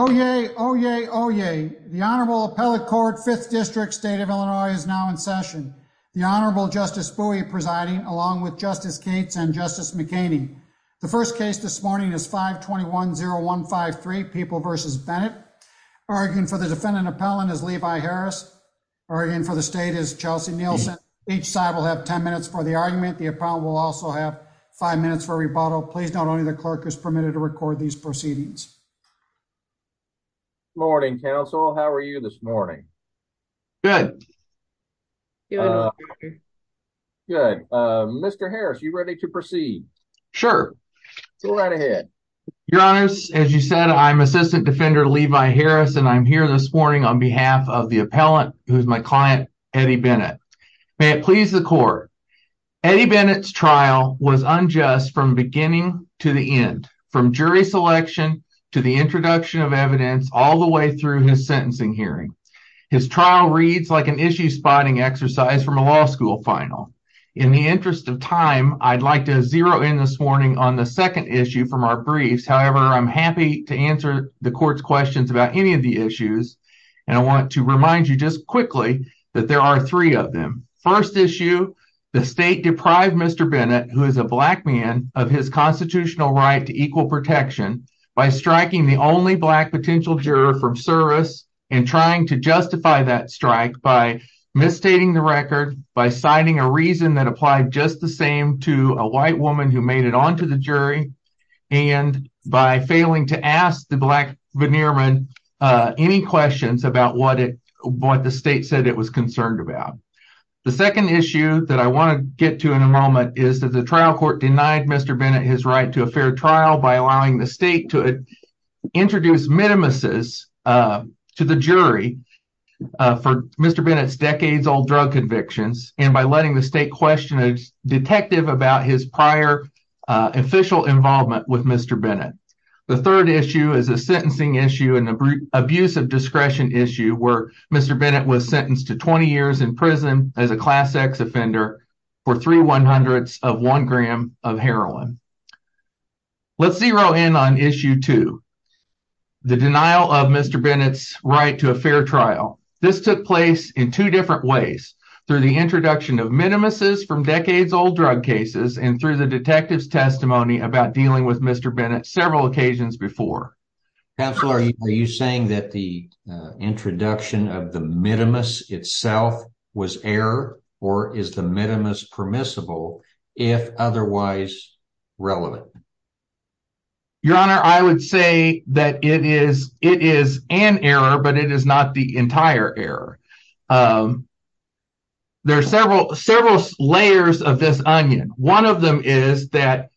Oh, yay. Oh, yay. Oh, yay. The Honorable Appellate Court Fifth District State of Illinois is now in session. The Honorable Justice Bowie presiding along with Justice Gates and Justice McCain II. The first case this morning is 5 21 0153 People versus Bennett. Arguing for the defendant appellant is Levi Harris. Arguing for the state is Chelsea Nielsen. Each side will have 10 minutes for the argument. The appellant will also have five minutes for rebuttal. Please. Not only the clerk is permitted to record these proceedings. Good morning, Counsel. How are you this morning? Good. Good. Mr. Harris, you ready to proceed? Sure. Go right ahead. Your honors. As you said, I'm Assistant Defender Levi Harris, and I'm here this morning on behalf of the appellant, who's my client, Eddie Bennett. May it please the court. Eddie to the introduction of evidence all the way through his sentencing hearing. His trial reads like an issue spotting exercise from a law school final. In the interest of time, I'd like to zero in this morning on the second issue from our briefs. However, I'm happy to answer the court's questions about any of the issues, and I want to remind you just quickly that there are three of them. First issue, the state deprived Mr Bennett, who is a black man of his origin, by striking the only black potential juror from service and trying to justify that strike by misstating the record by signing a reason that applied just the same to a white woman who made it onto the jury and by failing to ask the black veneer man any questions about what it what the state said it was concerned about. The second issue that I want to get to in a moment is that the trial court denied Mr Bennett his right to a fair trial by allowing the state to introduce minimuses to the jury for Mr Bennett's decades old drug convictions and by letting the state question a detective about his prior official involvement with Mr Bennett. The third issue is a sentencing issue in the abuse of discretion issue where Mr Bennett was sentenced to 20 years in prison as a class X offender for three one hundredths of one gram of heroin. Let's zero in on issue to the denial of Mr Bennett's right to a fair trial. This took place in two different ways through the introduction of minimuses from decades old drug cases and through the detective's testimony about dealing with Mr Bennett several occasions before. Counselor, are you saying that the introduction of the minimus itself was error or is the minimus permissible if otherwise relevant? Your honor, I would say that it is it is an error, but it is not the entire error. Um, there are several several layers of this onion. One of them is that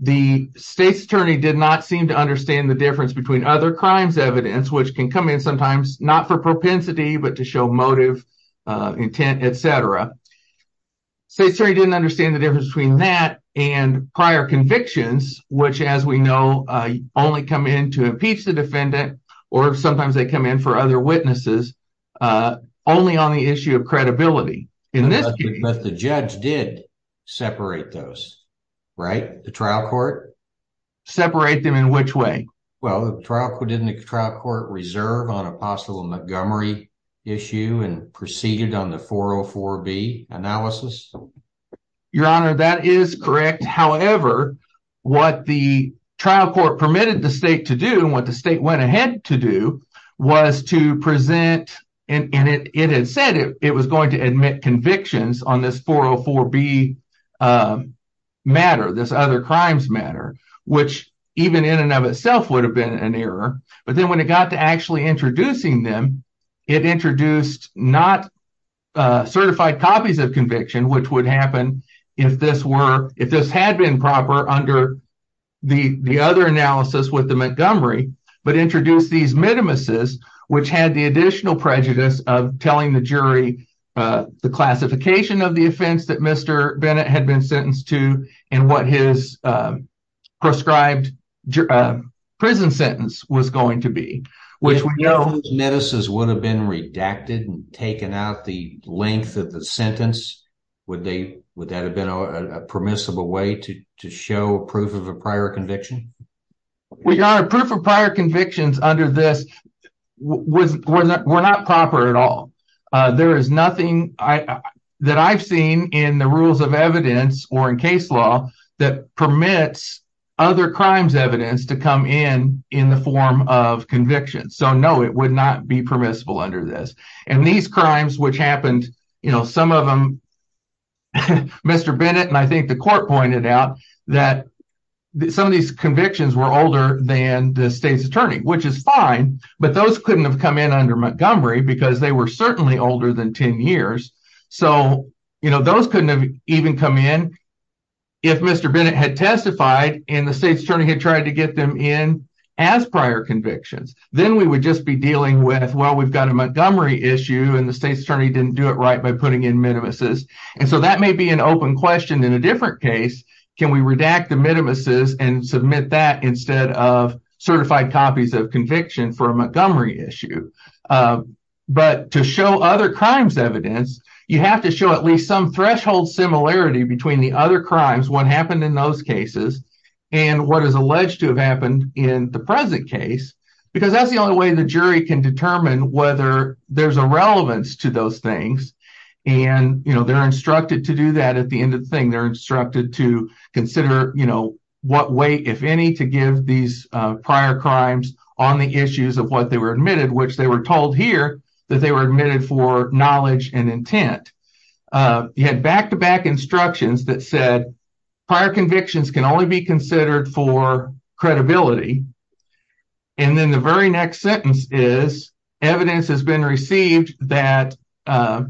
the state's attorney did not seem to understand the difference between other crimes evidence which can come in sometimes not for propensity, but to he didn't understand the difference between that and prior convictions, which, as we know, only come in to impeach the defendant or sometimes they come in for other witnesses, uh, only on the issue of credibility. In this case, the judge did separate those, right? The trial court separate them in which way? Well, the trial court in the trial court reserve on a possible Montgomery issue and proceeded on the 404 B analysis. Your honor, that is correct. However, what the trial court permitted the state to do and what the state went ahead to do was to present and it had said it was going to admit convictions on this 404 B. Um, matter this other crimes matter, which even in and of itself would have been an error. But then when it got to actually introducing them, it introduced not certified copies of conviction, which would happen if this were if this had been proper under the other analysis with the Montgomery, but introduced these minimuses, which had the additional prejudice of telling the jury the classification of the offense that Mr Bennett had been sentenced to and what his, uh, prescribed, uh, prison sentence was going to be, which we know notices would have been redacted and taken out the length of the sentence. Would they? Would that have been a permissible way to show proof of a prior conviction? We are proof of prior convictions under this was were not proper at all. There is nothing that I've seen in the rules of evidence or in case law that permits other crimes evidence to come in in the form of conviction. So no, it would not be permissible under this. And these crimes, which happened, you know, some of them Mr Bennett. And I think the court pointed out that some of these convictions were older than the state's attorney, which is fine. But those couldn't have come in under Montgomery because they were certainly older than 10 years. So, you know, those couldn't have even come in if Mr Bennett had testified and the state's attorney had tried to get them in as prior convictions. Then we would just be dealing with, well, we've got a Montgomery issue and the state's attorney didn't do it right by putting in minimuses. And so that may be an open question in a different case. Can we redact the minimuses and submit that instead of certified copies of conviction for a Montgomery issue? Uh, but to show other crimes evidence, you have to show at least some threshold similarity between the other crimes. What happened in those cases and what is alleged to have happened in the present case, because that's the only way the jury can determine whether there's a relevance to those things. And, you know, they're instructed to do that. At the end of the thing, they're instructed to consider, you know, what way, if any, to give these prior crimes on the issues of what they were admitted, which they were told here that they were admitted for prior convictions can only be considered for credibility. And then the very next sentence is evidence has been received that, uh,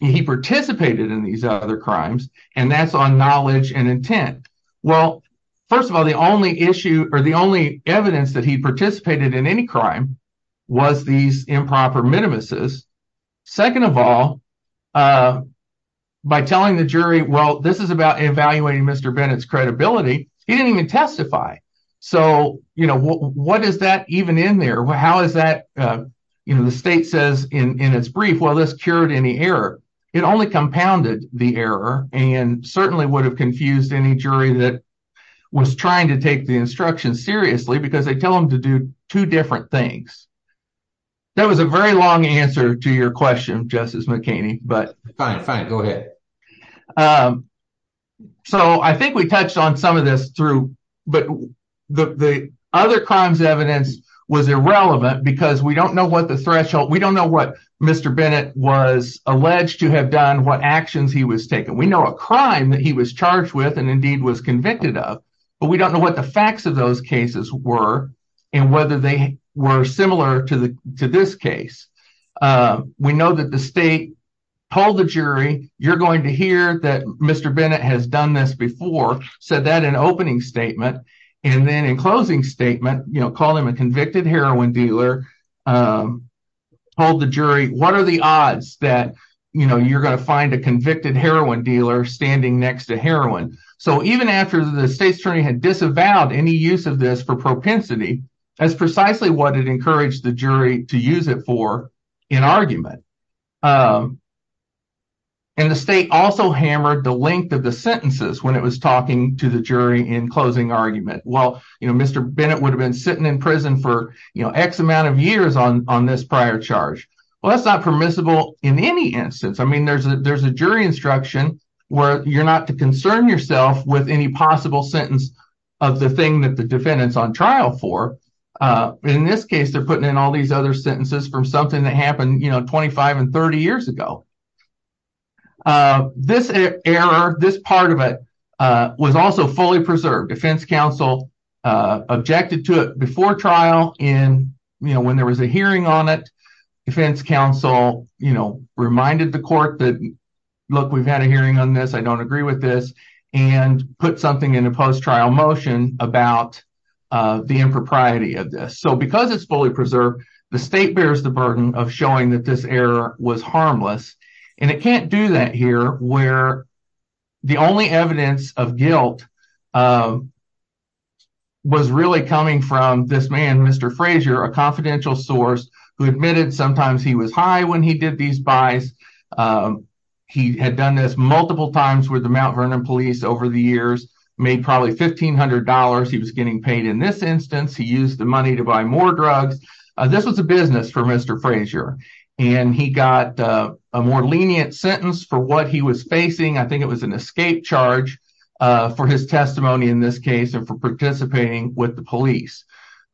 he participated in these other crimes and that's on knowledge and intent. Well, first of all, the only issue or the only evidence that he participated in any crime was these improper minimuses. Second of all, uh, by telling the jury, well, this is about evaluating Mr Bennett's credibility. He didn't even testify. So, you know, what is that even in there? How is that, uh, you know, the state says in its brief, well, this cured any error. It only compounded the error and certainly would have confused any jury that was trying to take the instruction seriously because they tell them to do two different things. That was a very long answer to your question, Justice McCain. But fine, fine, go ahead. Um, so I think we touched on some of this through, but the other crimes evidence was irrelevant because we don't know what the threshold, we don't know what Mr Bennett was alleged to have done, what actions he was taken. We know a crime that he was charged with and indeed was convicted of, but we don't know what the facts of those cases were and whether they were similar to this case. Uh, we know that the state hold the jury. You're going to hear that Mr Bennett has done this before, said that an opening statement and then in closing statement, you know, call him a convicted heroin dealer. Um, hold the jury. What are the odds that, you know, you're going to find a convicted heroin dealer standing next to heroin. So even after the state attorney had disavowed any use of this for propensity, that's precisely what it encouraged the jury to use it for in argument. Um, and the state also hammered the length of the sentences when it was talking to the jury in closing argument. Well, you know, Mr Bennett would have been sitting in prison for X amount of years on this prior charge. Well, that's not permissible in any instance. I mean, there's a jury instruction where you're not to concern yourself with any possible sentence of the thing that the defendant's on trial for. Uh, in this case, they're putting in all these other sentences from something that happened, you know, 25 and 30 years ago. Uh, this error, this part of it, uh, was also fully preserved. Defense counsel, uh, objected to it before trial in, you know, when there was a hearing on it, defense counsel, you know, reminded the court that, look, we've had a hearing on this. I don't agree with this and put something in a post trial motion about the impropriety of this. So because it's fully preserved, the state bears the burden of showing that this error was harmless and it can't do that here where the only evidence of guilt, uh, was really coming from this man, Mr Frazier, a confidential source who admitted sometimes he was high when he did these buys. Um, he had done this multiple times where the Mount Vernon police over the years made probably $1500. He was getting paid in this instance. He used the money to buy more drugs. This was a business for Mr Frazier and he got a more lenient sentence for what he was facing. I think it was an escape charge for his testimony in this case and for participating with the police.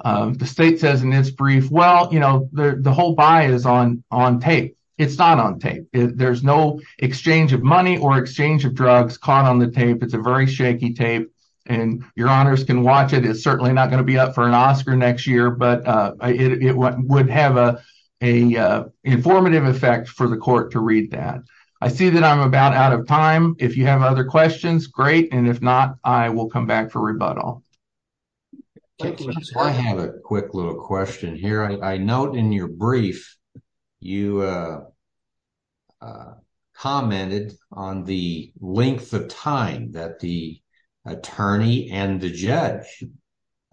Um, the state says in this brief, well, you know, the whole buy is on on tape. It's not on tape. There's no exchange of money or exchange of drugs caught on the tape. It's a very shaky tape and your honors can watch it. It's certainly not going to be up for an Oscar next year, but it would have a informative effect for the court to read that. I see that I'm about out of time. If you have other questions, great. And if not, I will come back for rebuttal. I have a quick little question here. I note in your brief you uh uh commented on the length of time that the attorney and the judge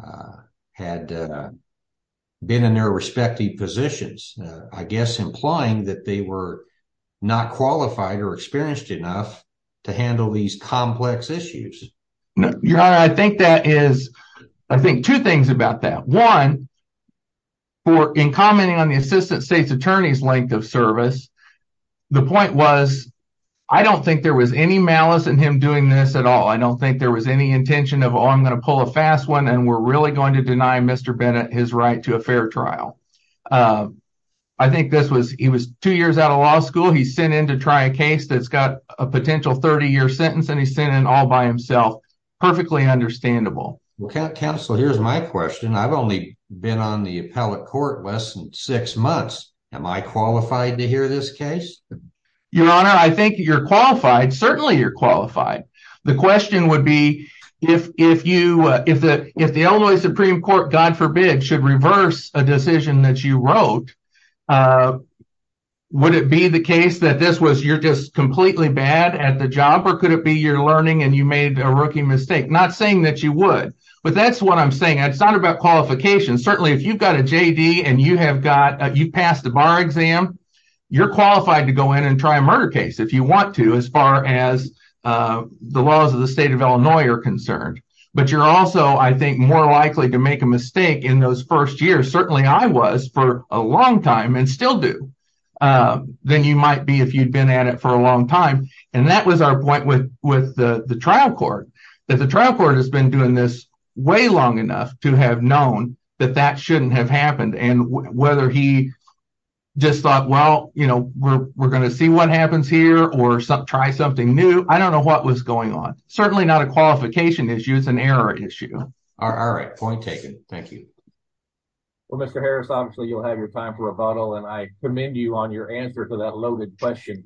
uh had uh been in their respective positions. I guess implying that they were not qualified or experienced enough to handle these complex issues. Your honor, I think that is, I think two things about that one for in commenting on the assistant state's attorney's length of service. The point was, I don't think there was any malice in him doing this at all. I don't think there was any intention of, oh, I'm going to pull a fast one and we're really going to deny Mr Bennett his right to a fair trial. Uh, I think this was, he was two years out of law school. He's sent in to try a case that's got a potential 30 year sentence and he sent in all by himself. Perfectly understandable. Counselor, here's my question. I've only been on the appellate court less than six months. Am I qualified to hear this case? Your honor, I think you're qualified. Certainly you're qualified. The question would be if, if you, if the, if the Illinois Supreme Court, God forbid, should reverse a decision that you wrote, uh, would it be the case that this was, you're just completely bad at the job or could it be you're learning and you made a rookie mistake? Not saying that you would, but that's what I'm saying. It's not about qualifications. Certainly if you've got a JD and you have got, you passed the bar exam, you're qualified to go in and try a murder case if you want to, as far as, uh, the laws of the state of Illinois are concerned. But you're also, I think, more likely to make a mistake in those first years. Certainly I was for a long time and still do, uh, than you might be if you'd been at it for a while. And I think that was our point with, with the trial court, that the trial court has been doing this way long enough to have known that that shouldn't have happened. And whether he just thought, well, you know, we're going to see what happens here or try something new. I don't know what was going on. Certainly not a qualification issue. It's an error issue. All right, point taken. Thank you. Well, Mr Harris, obviously you'll have your time for a little, and I commend you on your answer to that loaded question.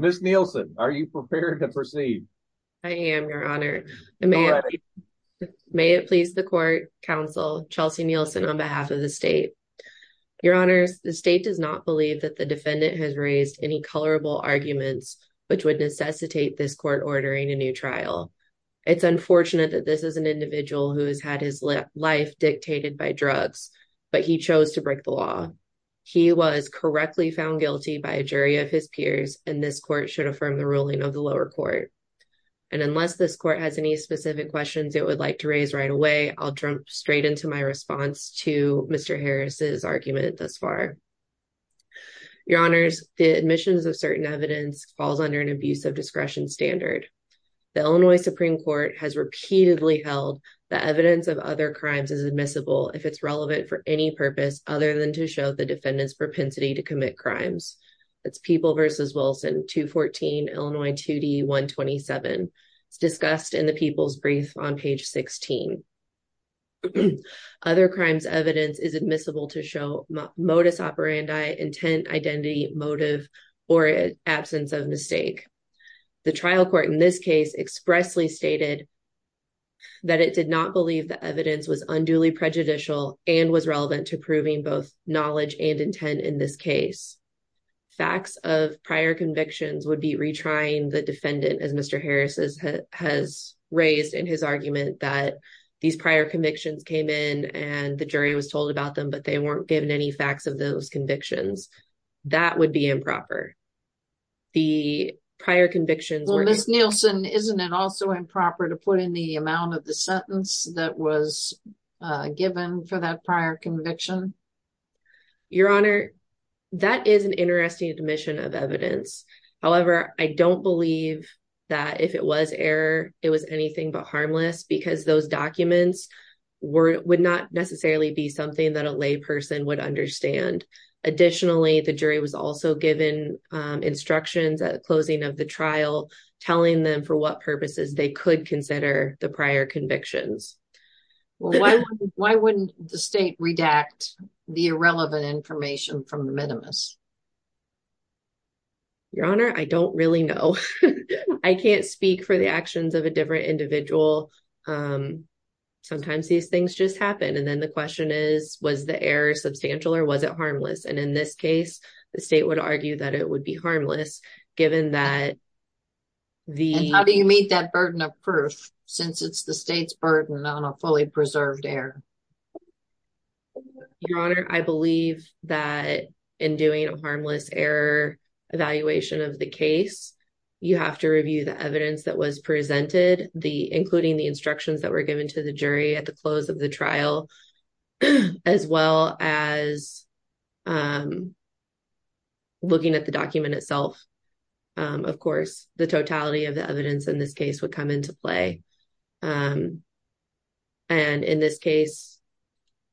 Miss Nielsen, are you prepared to proceed? I am, Your Honor. May it please the court counsel Chelsea Nielsen on behalf of the state. Your honors, the state does not believe that the defendant has raised any colorable arguments which would necessitate this court ordering a new trial. It's life dictated by drugs, but he chose to break the law. He was correctly found guilty by a jury of his peers, and this court should affirm the ruling of the lower court. And unless this court has any specific questions it would like to raise right away, I'll jump straight into my response to Mr Harris's argument thus far. Your honors, the admissions of certain evidence falls under an abuse of discretion standard. The Illinois Supreme Court has repeatedly held the other crimes is admissible if it's relevant for any purpose other than to show the defendant's propensity to commit crimes. It's People versus Wilson, 214 Illinois 2D 127. It's discussed in the people's brief on page 16. Other crimes evidence is admissible to show modus operandi, intent, identity, motive, or absence of mistake. The trial court in this case expressly stated that it did not believe the evidence was unduly prejudicial and was relevant to proving both knowledge and intent in this case. Facts of prior convictions would be retrying the defendant as Mr Harris's has raised in his argument that these prior convictions came in and the jury was told about them, but they weren't given any facts of those convictions. That would be improper. The prior convictions were Miss Nielsen, isn't it also improper to put in the amount of the sentence that was given for that prior conviction? Your honor, that is an interesting admission of evidence. However, I don't believe that if it was error, it was anything but harmless because those documents were would not necessarily be something that a lay person would understand. Additionally, the jury was also given instructions at the closing of the trial, telling them for what purposes they could consider the prior convictions. Why wouldn't the state redact the irrelevant information from the minimus? Your honor, I don't really know. I can't speak for the actions of a different individual. Um, sometimes these things just happen. And then the question is, was the error substantial or was it harmless? And in this case, the state would argue that it would be harmless given that the how do you meet that burden of proof since it's the state's burden on a fully preserved air? Your honor, I believe that in doing a harmless error evaluation of the case, you have to review the evidence that was presented the including the instructions that were given to the jury at the close of the trial, as well as, um, looking at the document itself. Of course, the totality of the evidence in this case would come into play. Um, and in this case,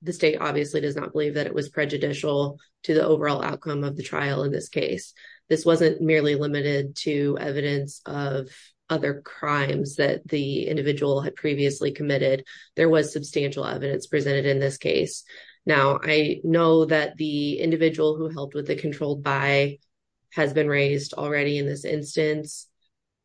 the state obviously does not believe that it was prejudicial to the overall outcome of the trial. In this case, this wasn't merely limited to evidence of other crimes that the individual had previously committed. There was substantial evidence presented in this case. Now, I know that the individual who helped with the controlled by has been raised already in this instance.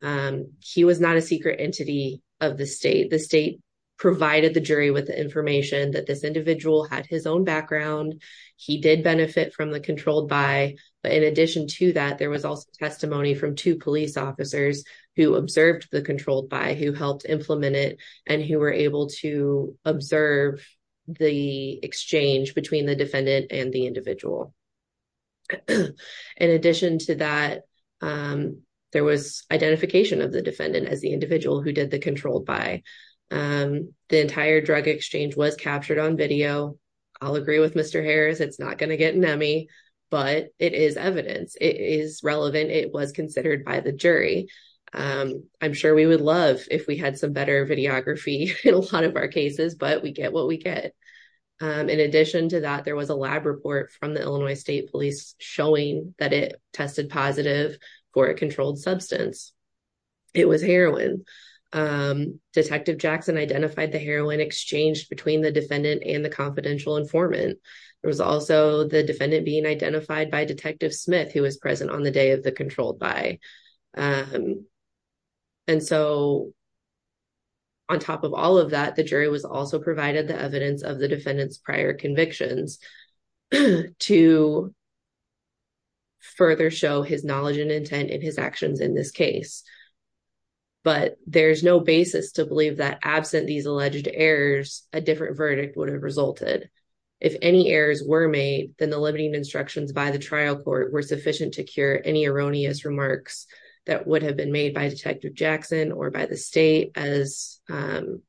Um, he was not a secret entity of the state. The state provided the jury with the information that this individual had his own background. He did benefit from the controlled by. But in addition to that, there was also testimony from two police officers who observed the controlled by who helped implement it and who were able to observe the exchange between the defendant and the individual. In addition to that, um, there was identification of the defendant as the individual who did the controlled by. Um, the entire drug exchange was captured on video. I'll agree with Mr. Harris. It's not gonna get nummy, but it is evidence. It is relevant. It was considered by the jury. Um, I'm sure we would love if we had some better videography in a lot of our cases, but we get what we get. Um, in addition to that, there was a lab report from the Illinois State Police showing that it tested positive for a controlled substance. It was heroin. Um, Detective Jackson identified the heroin exchanged between the defendant and the confidential informant. There was also the defendant being identified by Detective Smith, who was present on the controlled by. Um, and so on top of all of that, the jury was also provided the evidence of the defendant's prior convictions to further show his knowledge and intent in his actions in this case. But there's no basis to believe that absent these alleged errors, a different verdict would have resulted. If any errors were made, then the limiting instructions by the trial court were sufficient to cure any erroneous remarks that would have been made by Detective Jackson or by the state as, um,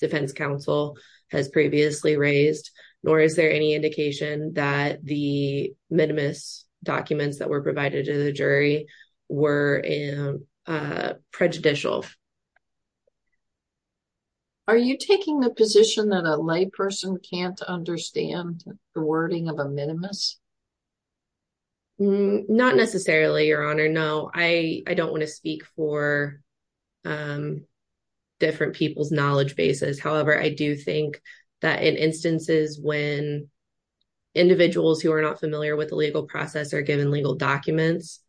defense counsel has previously raised. Nor is there any indication that the minimus documents that were provided to the jury were prejudicial. Are you taking the position that a lay person can't understand the wording of a minimus? Not necessarily, Your Honor. No, I don't want to speak for, um, different people's knowledge bases. However, I do think that in instances when individuals who are not familiar with the legal process are given legal documents,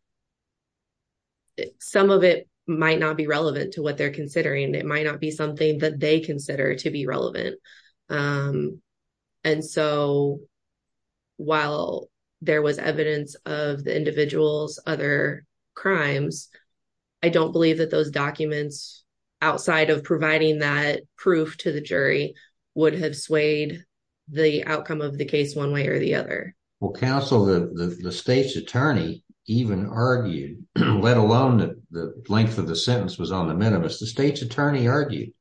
some of it might not be relevant to what they're considering. It might not be something that they consider to be relevant. Um, and so while there was evidence of the individual's other crimes, I don't believe that those documents outside of providing that proof to the jury would have swayed the outcome of the case one way or the other. Well, counsel, the state's attorney even argued, let alone the length of the sentence was on the minimus. The state's attorney argued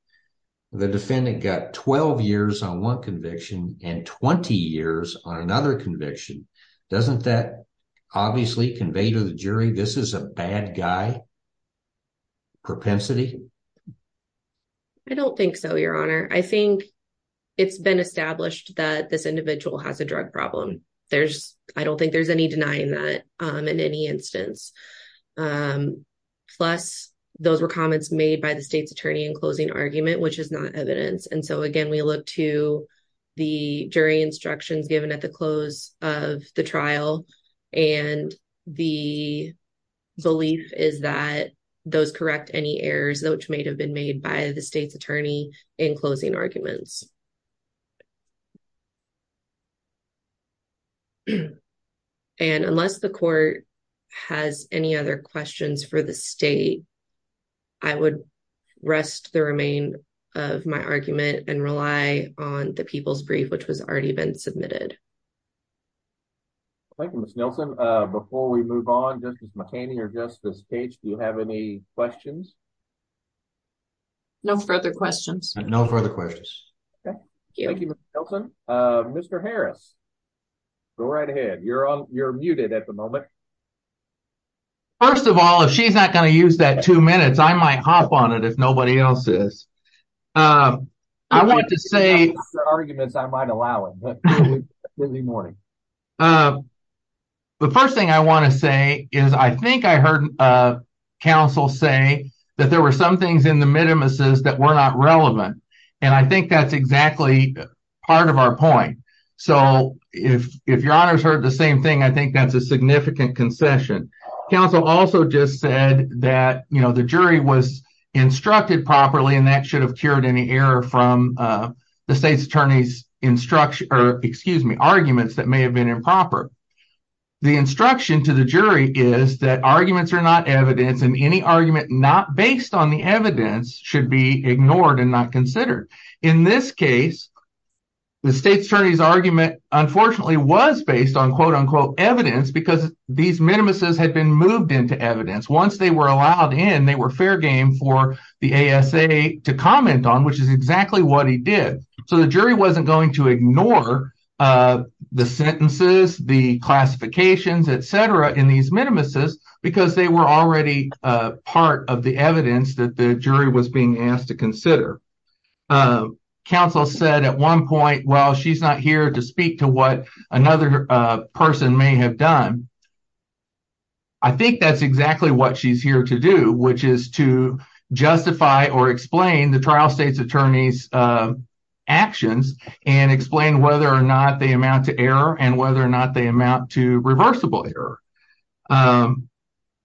the defendant got 12 years on one conviction. Doesn't that obviously conveyed to the jury? This is a bad guy. Propensity. I don't think so, Your Honor. I think it's been established that this individual has a drug problem. There's I don't think there's any denying that, um, in any instance. Um, plus those were comments made by the state's attorney in closing argument, which is not evidence. And so again, we look to the jury instructions given at the close of the trial, and the belief is that those correct any errors, which may have been made by the state's attorney in closing arguments. And unless the court has any other questions for the state, I would rest the remain of my argument and rely on the people's brief, which was already been submitted. Thank you, Miss Nelson. Before we move on, Justice McCain here, Justice Page, do you have any questions? No further questions. No further questions. Thank you, Mr Harrison. Go right ahead. You're on. You're muted at the moment. First of all, if she's not gonna use that two minutes, I might hop on it if nobody else is. Um, I want to say arguments. I might allow it early morning. Uh, the first thing I want to say is, I think I heard, uh, counsel say that there were some things in the minimuses that were not relevant. And I think that's exactly part of our point. So if your honors heard the same thing, I think that's a significant concession. Counsel also just said that, you know, the jury was instructed properly, and that should have cured any error from the state's attorney's instruction or excuse me, arguments that may have been improper. The instruction to the jury is that arguments are not evidence, and any argument not based on the evidence should be ignored and not considered. In this case, the state attorney's argument, unfortunately, was based on quote unquote evidence because these minimuses had been moved into evidence. Once they were allowed in, they were fair game for the A. S. A. To comment on, which is exactly what he did. So the jury wasn't going to ignore, uh, the sentences, the classifications, etcetera in these minimuses because they were already part of the evidence that the jury was being asked to consider. Uh, counsel said at one point, well, she's not here to speak to what another person may have done. I think that's exactly what she's here to do, which is to justify or explain the trial state's attorney's, uh, actions and explain whether or not they amount to error and whether or not they amount to reversible error. Um,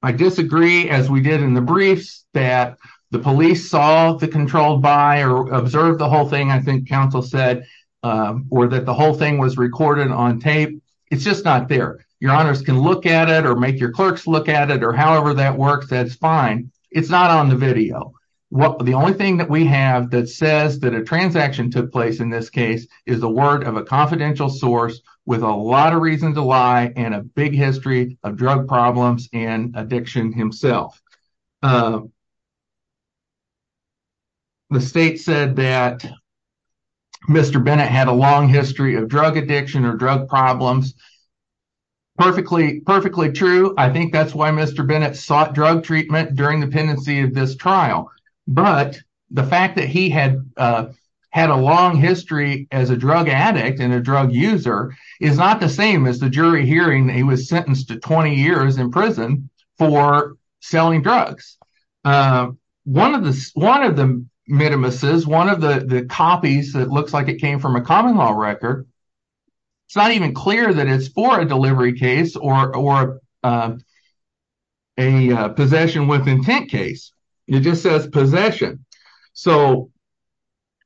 I disagree as we did in the briefs that the police saw the controlled by or observed the whole thing. I think counsel said, uh, or that the whole thing was recorded on tape. It's just not there. Your honors can look at it or make your clerks look at it or however that works. That's fine. It's not on the video. The only thing that we have that says that a transaction took place in this case is the word of a confidential source with a lot of reason to lie and a big history of drug problems and addiction himself. Uh, the state said that Mr Bennett had a long history of drug addiction or drug problems. Perfectly, perfectly true. I think that's why Mr Bennett sought drug treatment during the pendency of this trial. But the fact that he had, uh, had a long history as a drug addict and a drug user is not the same as the uh, one of the one of the minimus is one of the copies that looks like it came from a common law record. It's not even clear that it's for a delivery case or, or, uh, a possession with intent case. It just says possession. So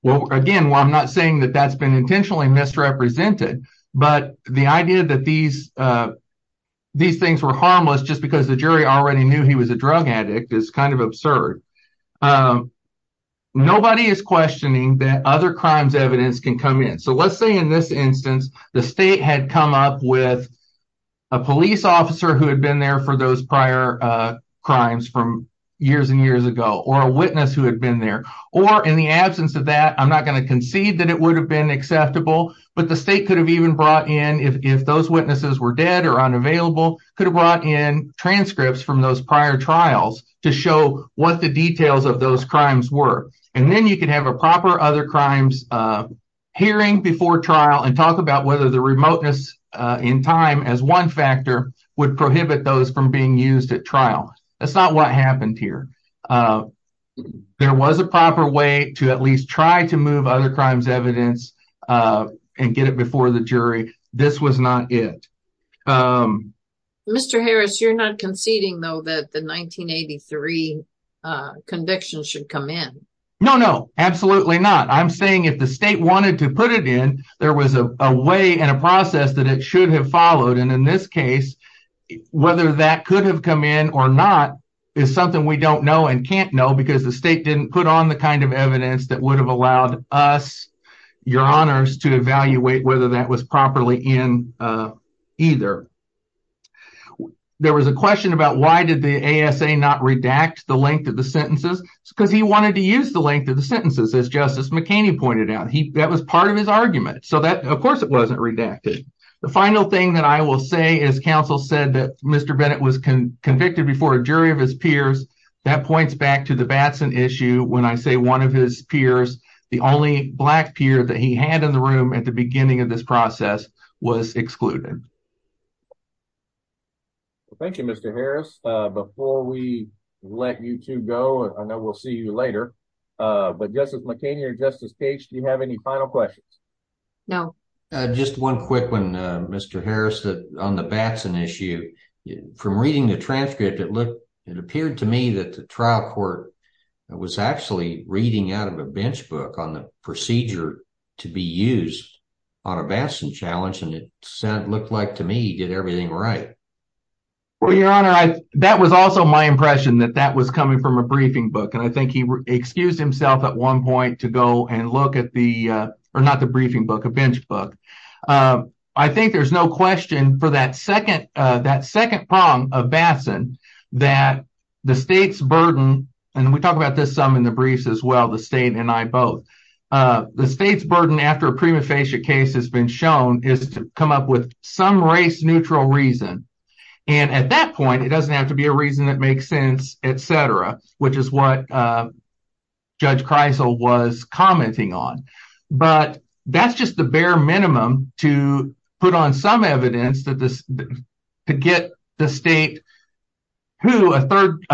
again, I'm not saying that that's been intentionally misrepresented, but the idea that these, uh, these things were harmless just because the jury already knew he was a drug addict is kind of absurd. Um, nobody is questioning that other crimes evidence can come in. So let's say in this instance, the state had come up with a police officer who had been there for those prior crimes from years and years ago or a witness who had been there or in the absence of that, I'm not going to concede that it would have been acceptable, but the state could have even brought in if those witnesses were dead or unavailable, could have brought in transcripts from those prior trials to show what the details of those crimes were. And then you could have a proper other crimes, uh, hearing before trial and talk about whether the remoteness, uh, in time as one factor would prohibit those from being used at trial. That's not what happened here. Uh, there was a proper way to at least try to move other crimes evidence, uh, and get it before the jury. This was not it. Um, Mr. Harris, you're not conceding, though, that the 1983 convictions should come in. No, no, absolutely not. I'm saying if the state wanted to put it in, there was a way and a process that it should have followed. And in this case, whether that could have come in or not is something we don't know and can't know because the state didn't put on the kind of evidence that would have allowed us your honors to evaluate whether that was properly in, uh, either. There was a question about why did the A. S. A. Not redact the length of the sentences because he wanted to use the length of the sentences. As Justice McKinney pointed out, that was part of his argument. So that, of course, it wasn't redacted. The final thing that I will say is, Council said that Mr Bennett was convicted before a jury of his peers. That points back to the Batson issue. When I say one of his peers, the only black peer that he had in the room at the beginning of this process was excluded. Thank you, Mr Harris. Before we let you to go, I know we'll see you later. But Justice McCain here, Justice Page, do you have any final questions? No. Just one quick one, Mr Harris that on the Batson issue from reading the transcript, it looked it appeared to me that the trial court was actually reading out of a bench book on the procedure to be used on a Batson challenge. And it looked like to me he did everything right. Well, Your Honor, that was also my impression that that was coming from a briefing book. And I think he excused himself at one point to go and look at the or not the briefing book, a bench book. Um, I think there's no question for that second, that second prong of Batson that the state's burden and we talk about this some in the briefs as well, the state and I both the state's burden after a prima facie case has been shown is to come up with some race neutral reason. And at that point, it doesn't have to be a reason that makes sense, etcetera, which is what Judge Kreisel was commenting on. But that's just the bare minimum to put on some evidence that to get the state who a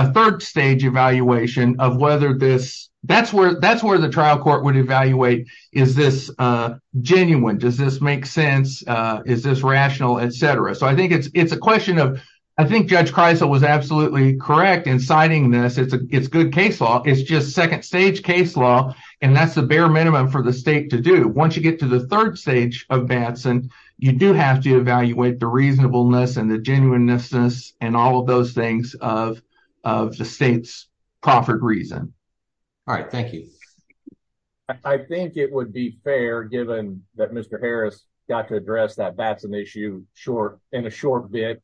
third stage evaluation of whether this that's where that's where the trial court would evaluate. Is this genuine? Does this make sense? Is this rational? Etcetera. So I think it's a question of I think Judge Kreisel was absolutely correct in signing this. It's a good case law. It's just second stage case law. And that's the bare minimum for the state to do. Once you get to the third stage of Batson, you do have to evaluate the reasonableness and the things of of the state's proffered reason. All right. Thank you. I think it would be fair given that Mr Harris got to address that Batson issue short in a short bit.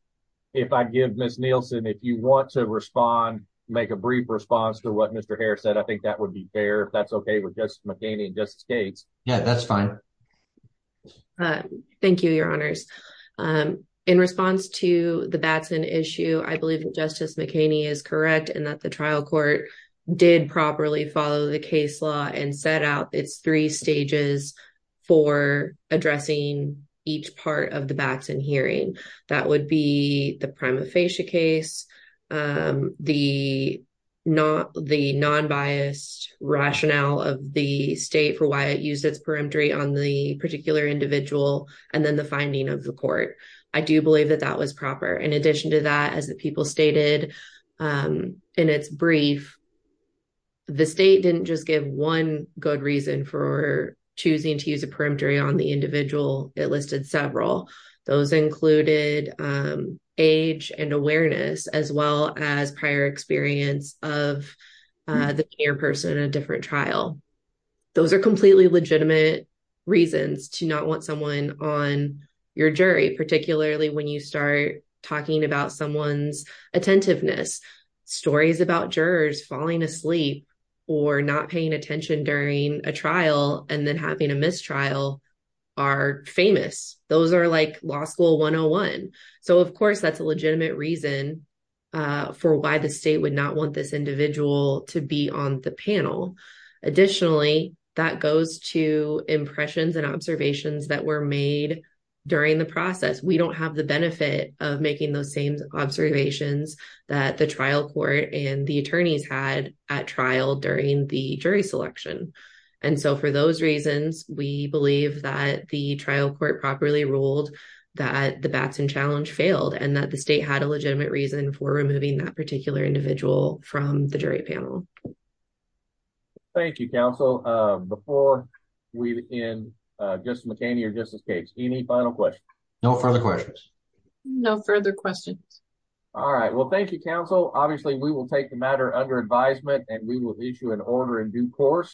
If I give Miss Nielsen, if you want to respond, make a brief response to what Mr Harris said. I think that would be fair if that's okay with just McCain and just states. Yeah, that's fine. Uh, thank you, Your Honors. Um, in response to the Batson issue, I believe that Justice McKinney is correct and that the trial court did properly follow the case law and set out its three stages for addressing each part of the Batson hearing. That would be the prima facie case. Um, the not the non biased rationale of the state for why it used its perimetry on the particular individual and then the finding of the court. I do believe that that was proper. In addition to that, as the people stated, um, in its brief, the state didn't just give one good reason for choosing to use a perimetry on the individual. It listed several. Those included, um, age and awareness as well as prior experience of the person in a different trial. Those are completely legitimate reasons to not want someone on your jury, particularly when you start talking about someone's attentiveness, stories about jurors falling asleep or not paying attention during a trial and then having a mistrial are famous. Those air like law school 101. So, of course, that's a for why the state would not want this individual to be on the panel. Additionally, that goes to impressions and observations that were made during the process. We don't have the benefit of making those same observations that the trial court and the attorneys had at trial during the jury selection. And so for those reasons, we believe that the trial court properly ruled that the legitimate reason for removing that particular individual from the jury panel. Thank you, Counsel. Before we begin, uh, just McKinney or just escapes any final question. No further questions. No further questions. All right. Well, thank you, Counsel. Obviously, we will take the matter under advisement and we will meet you in order in due course.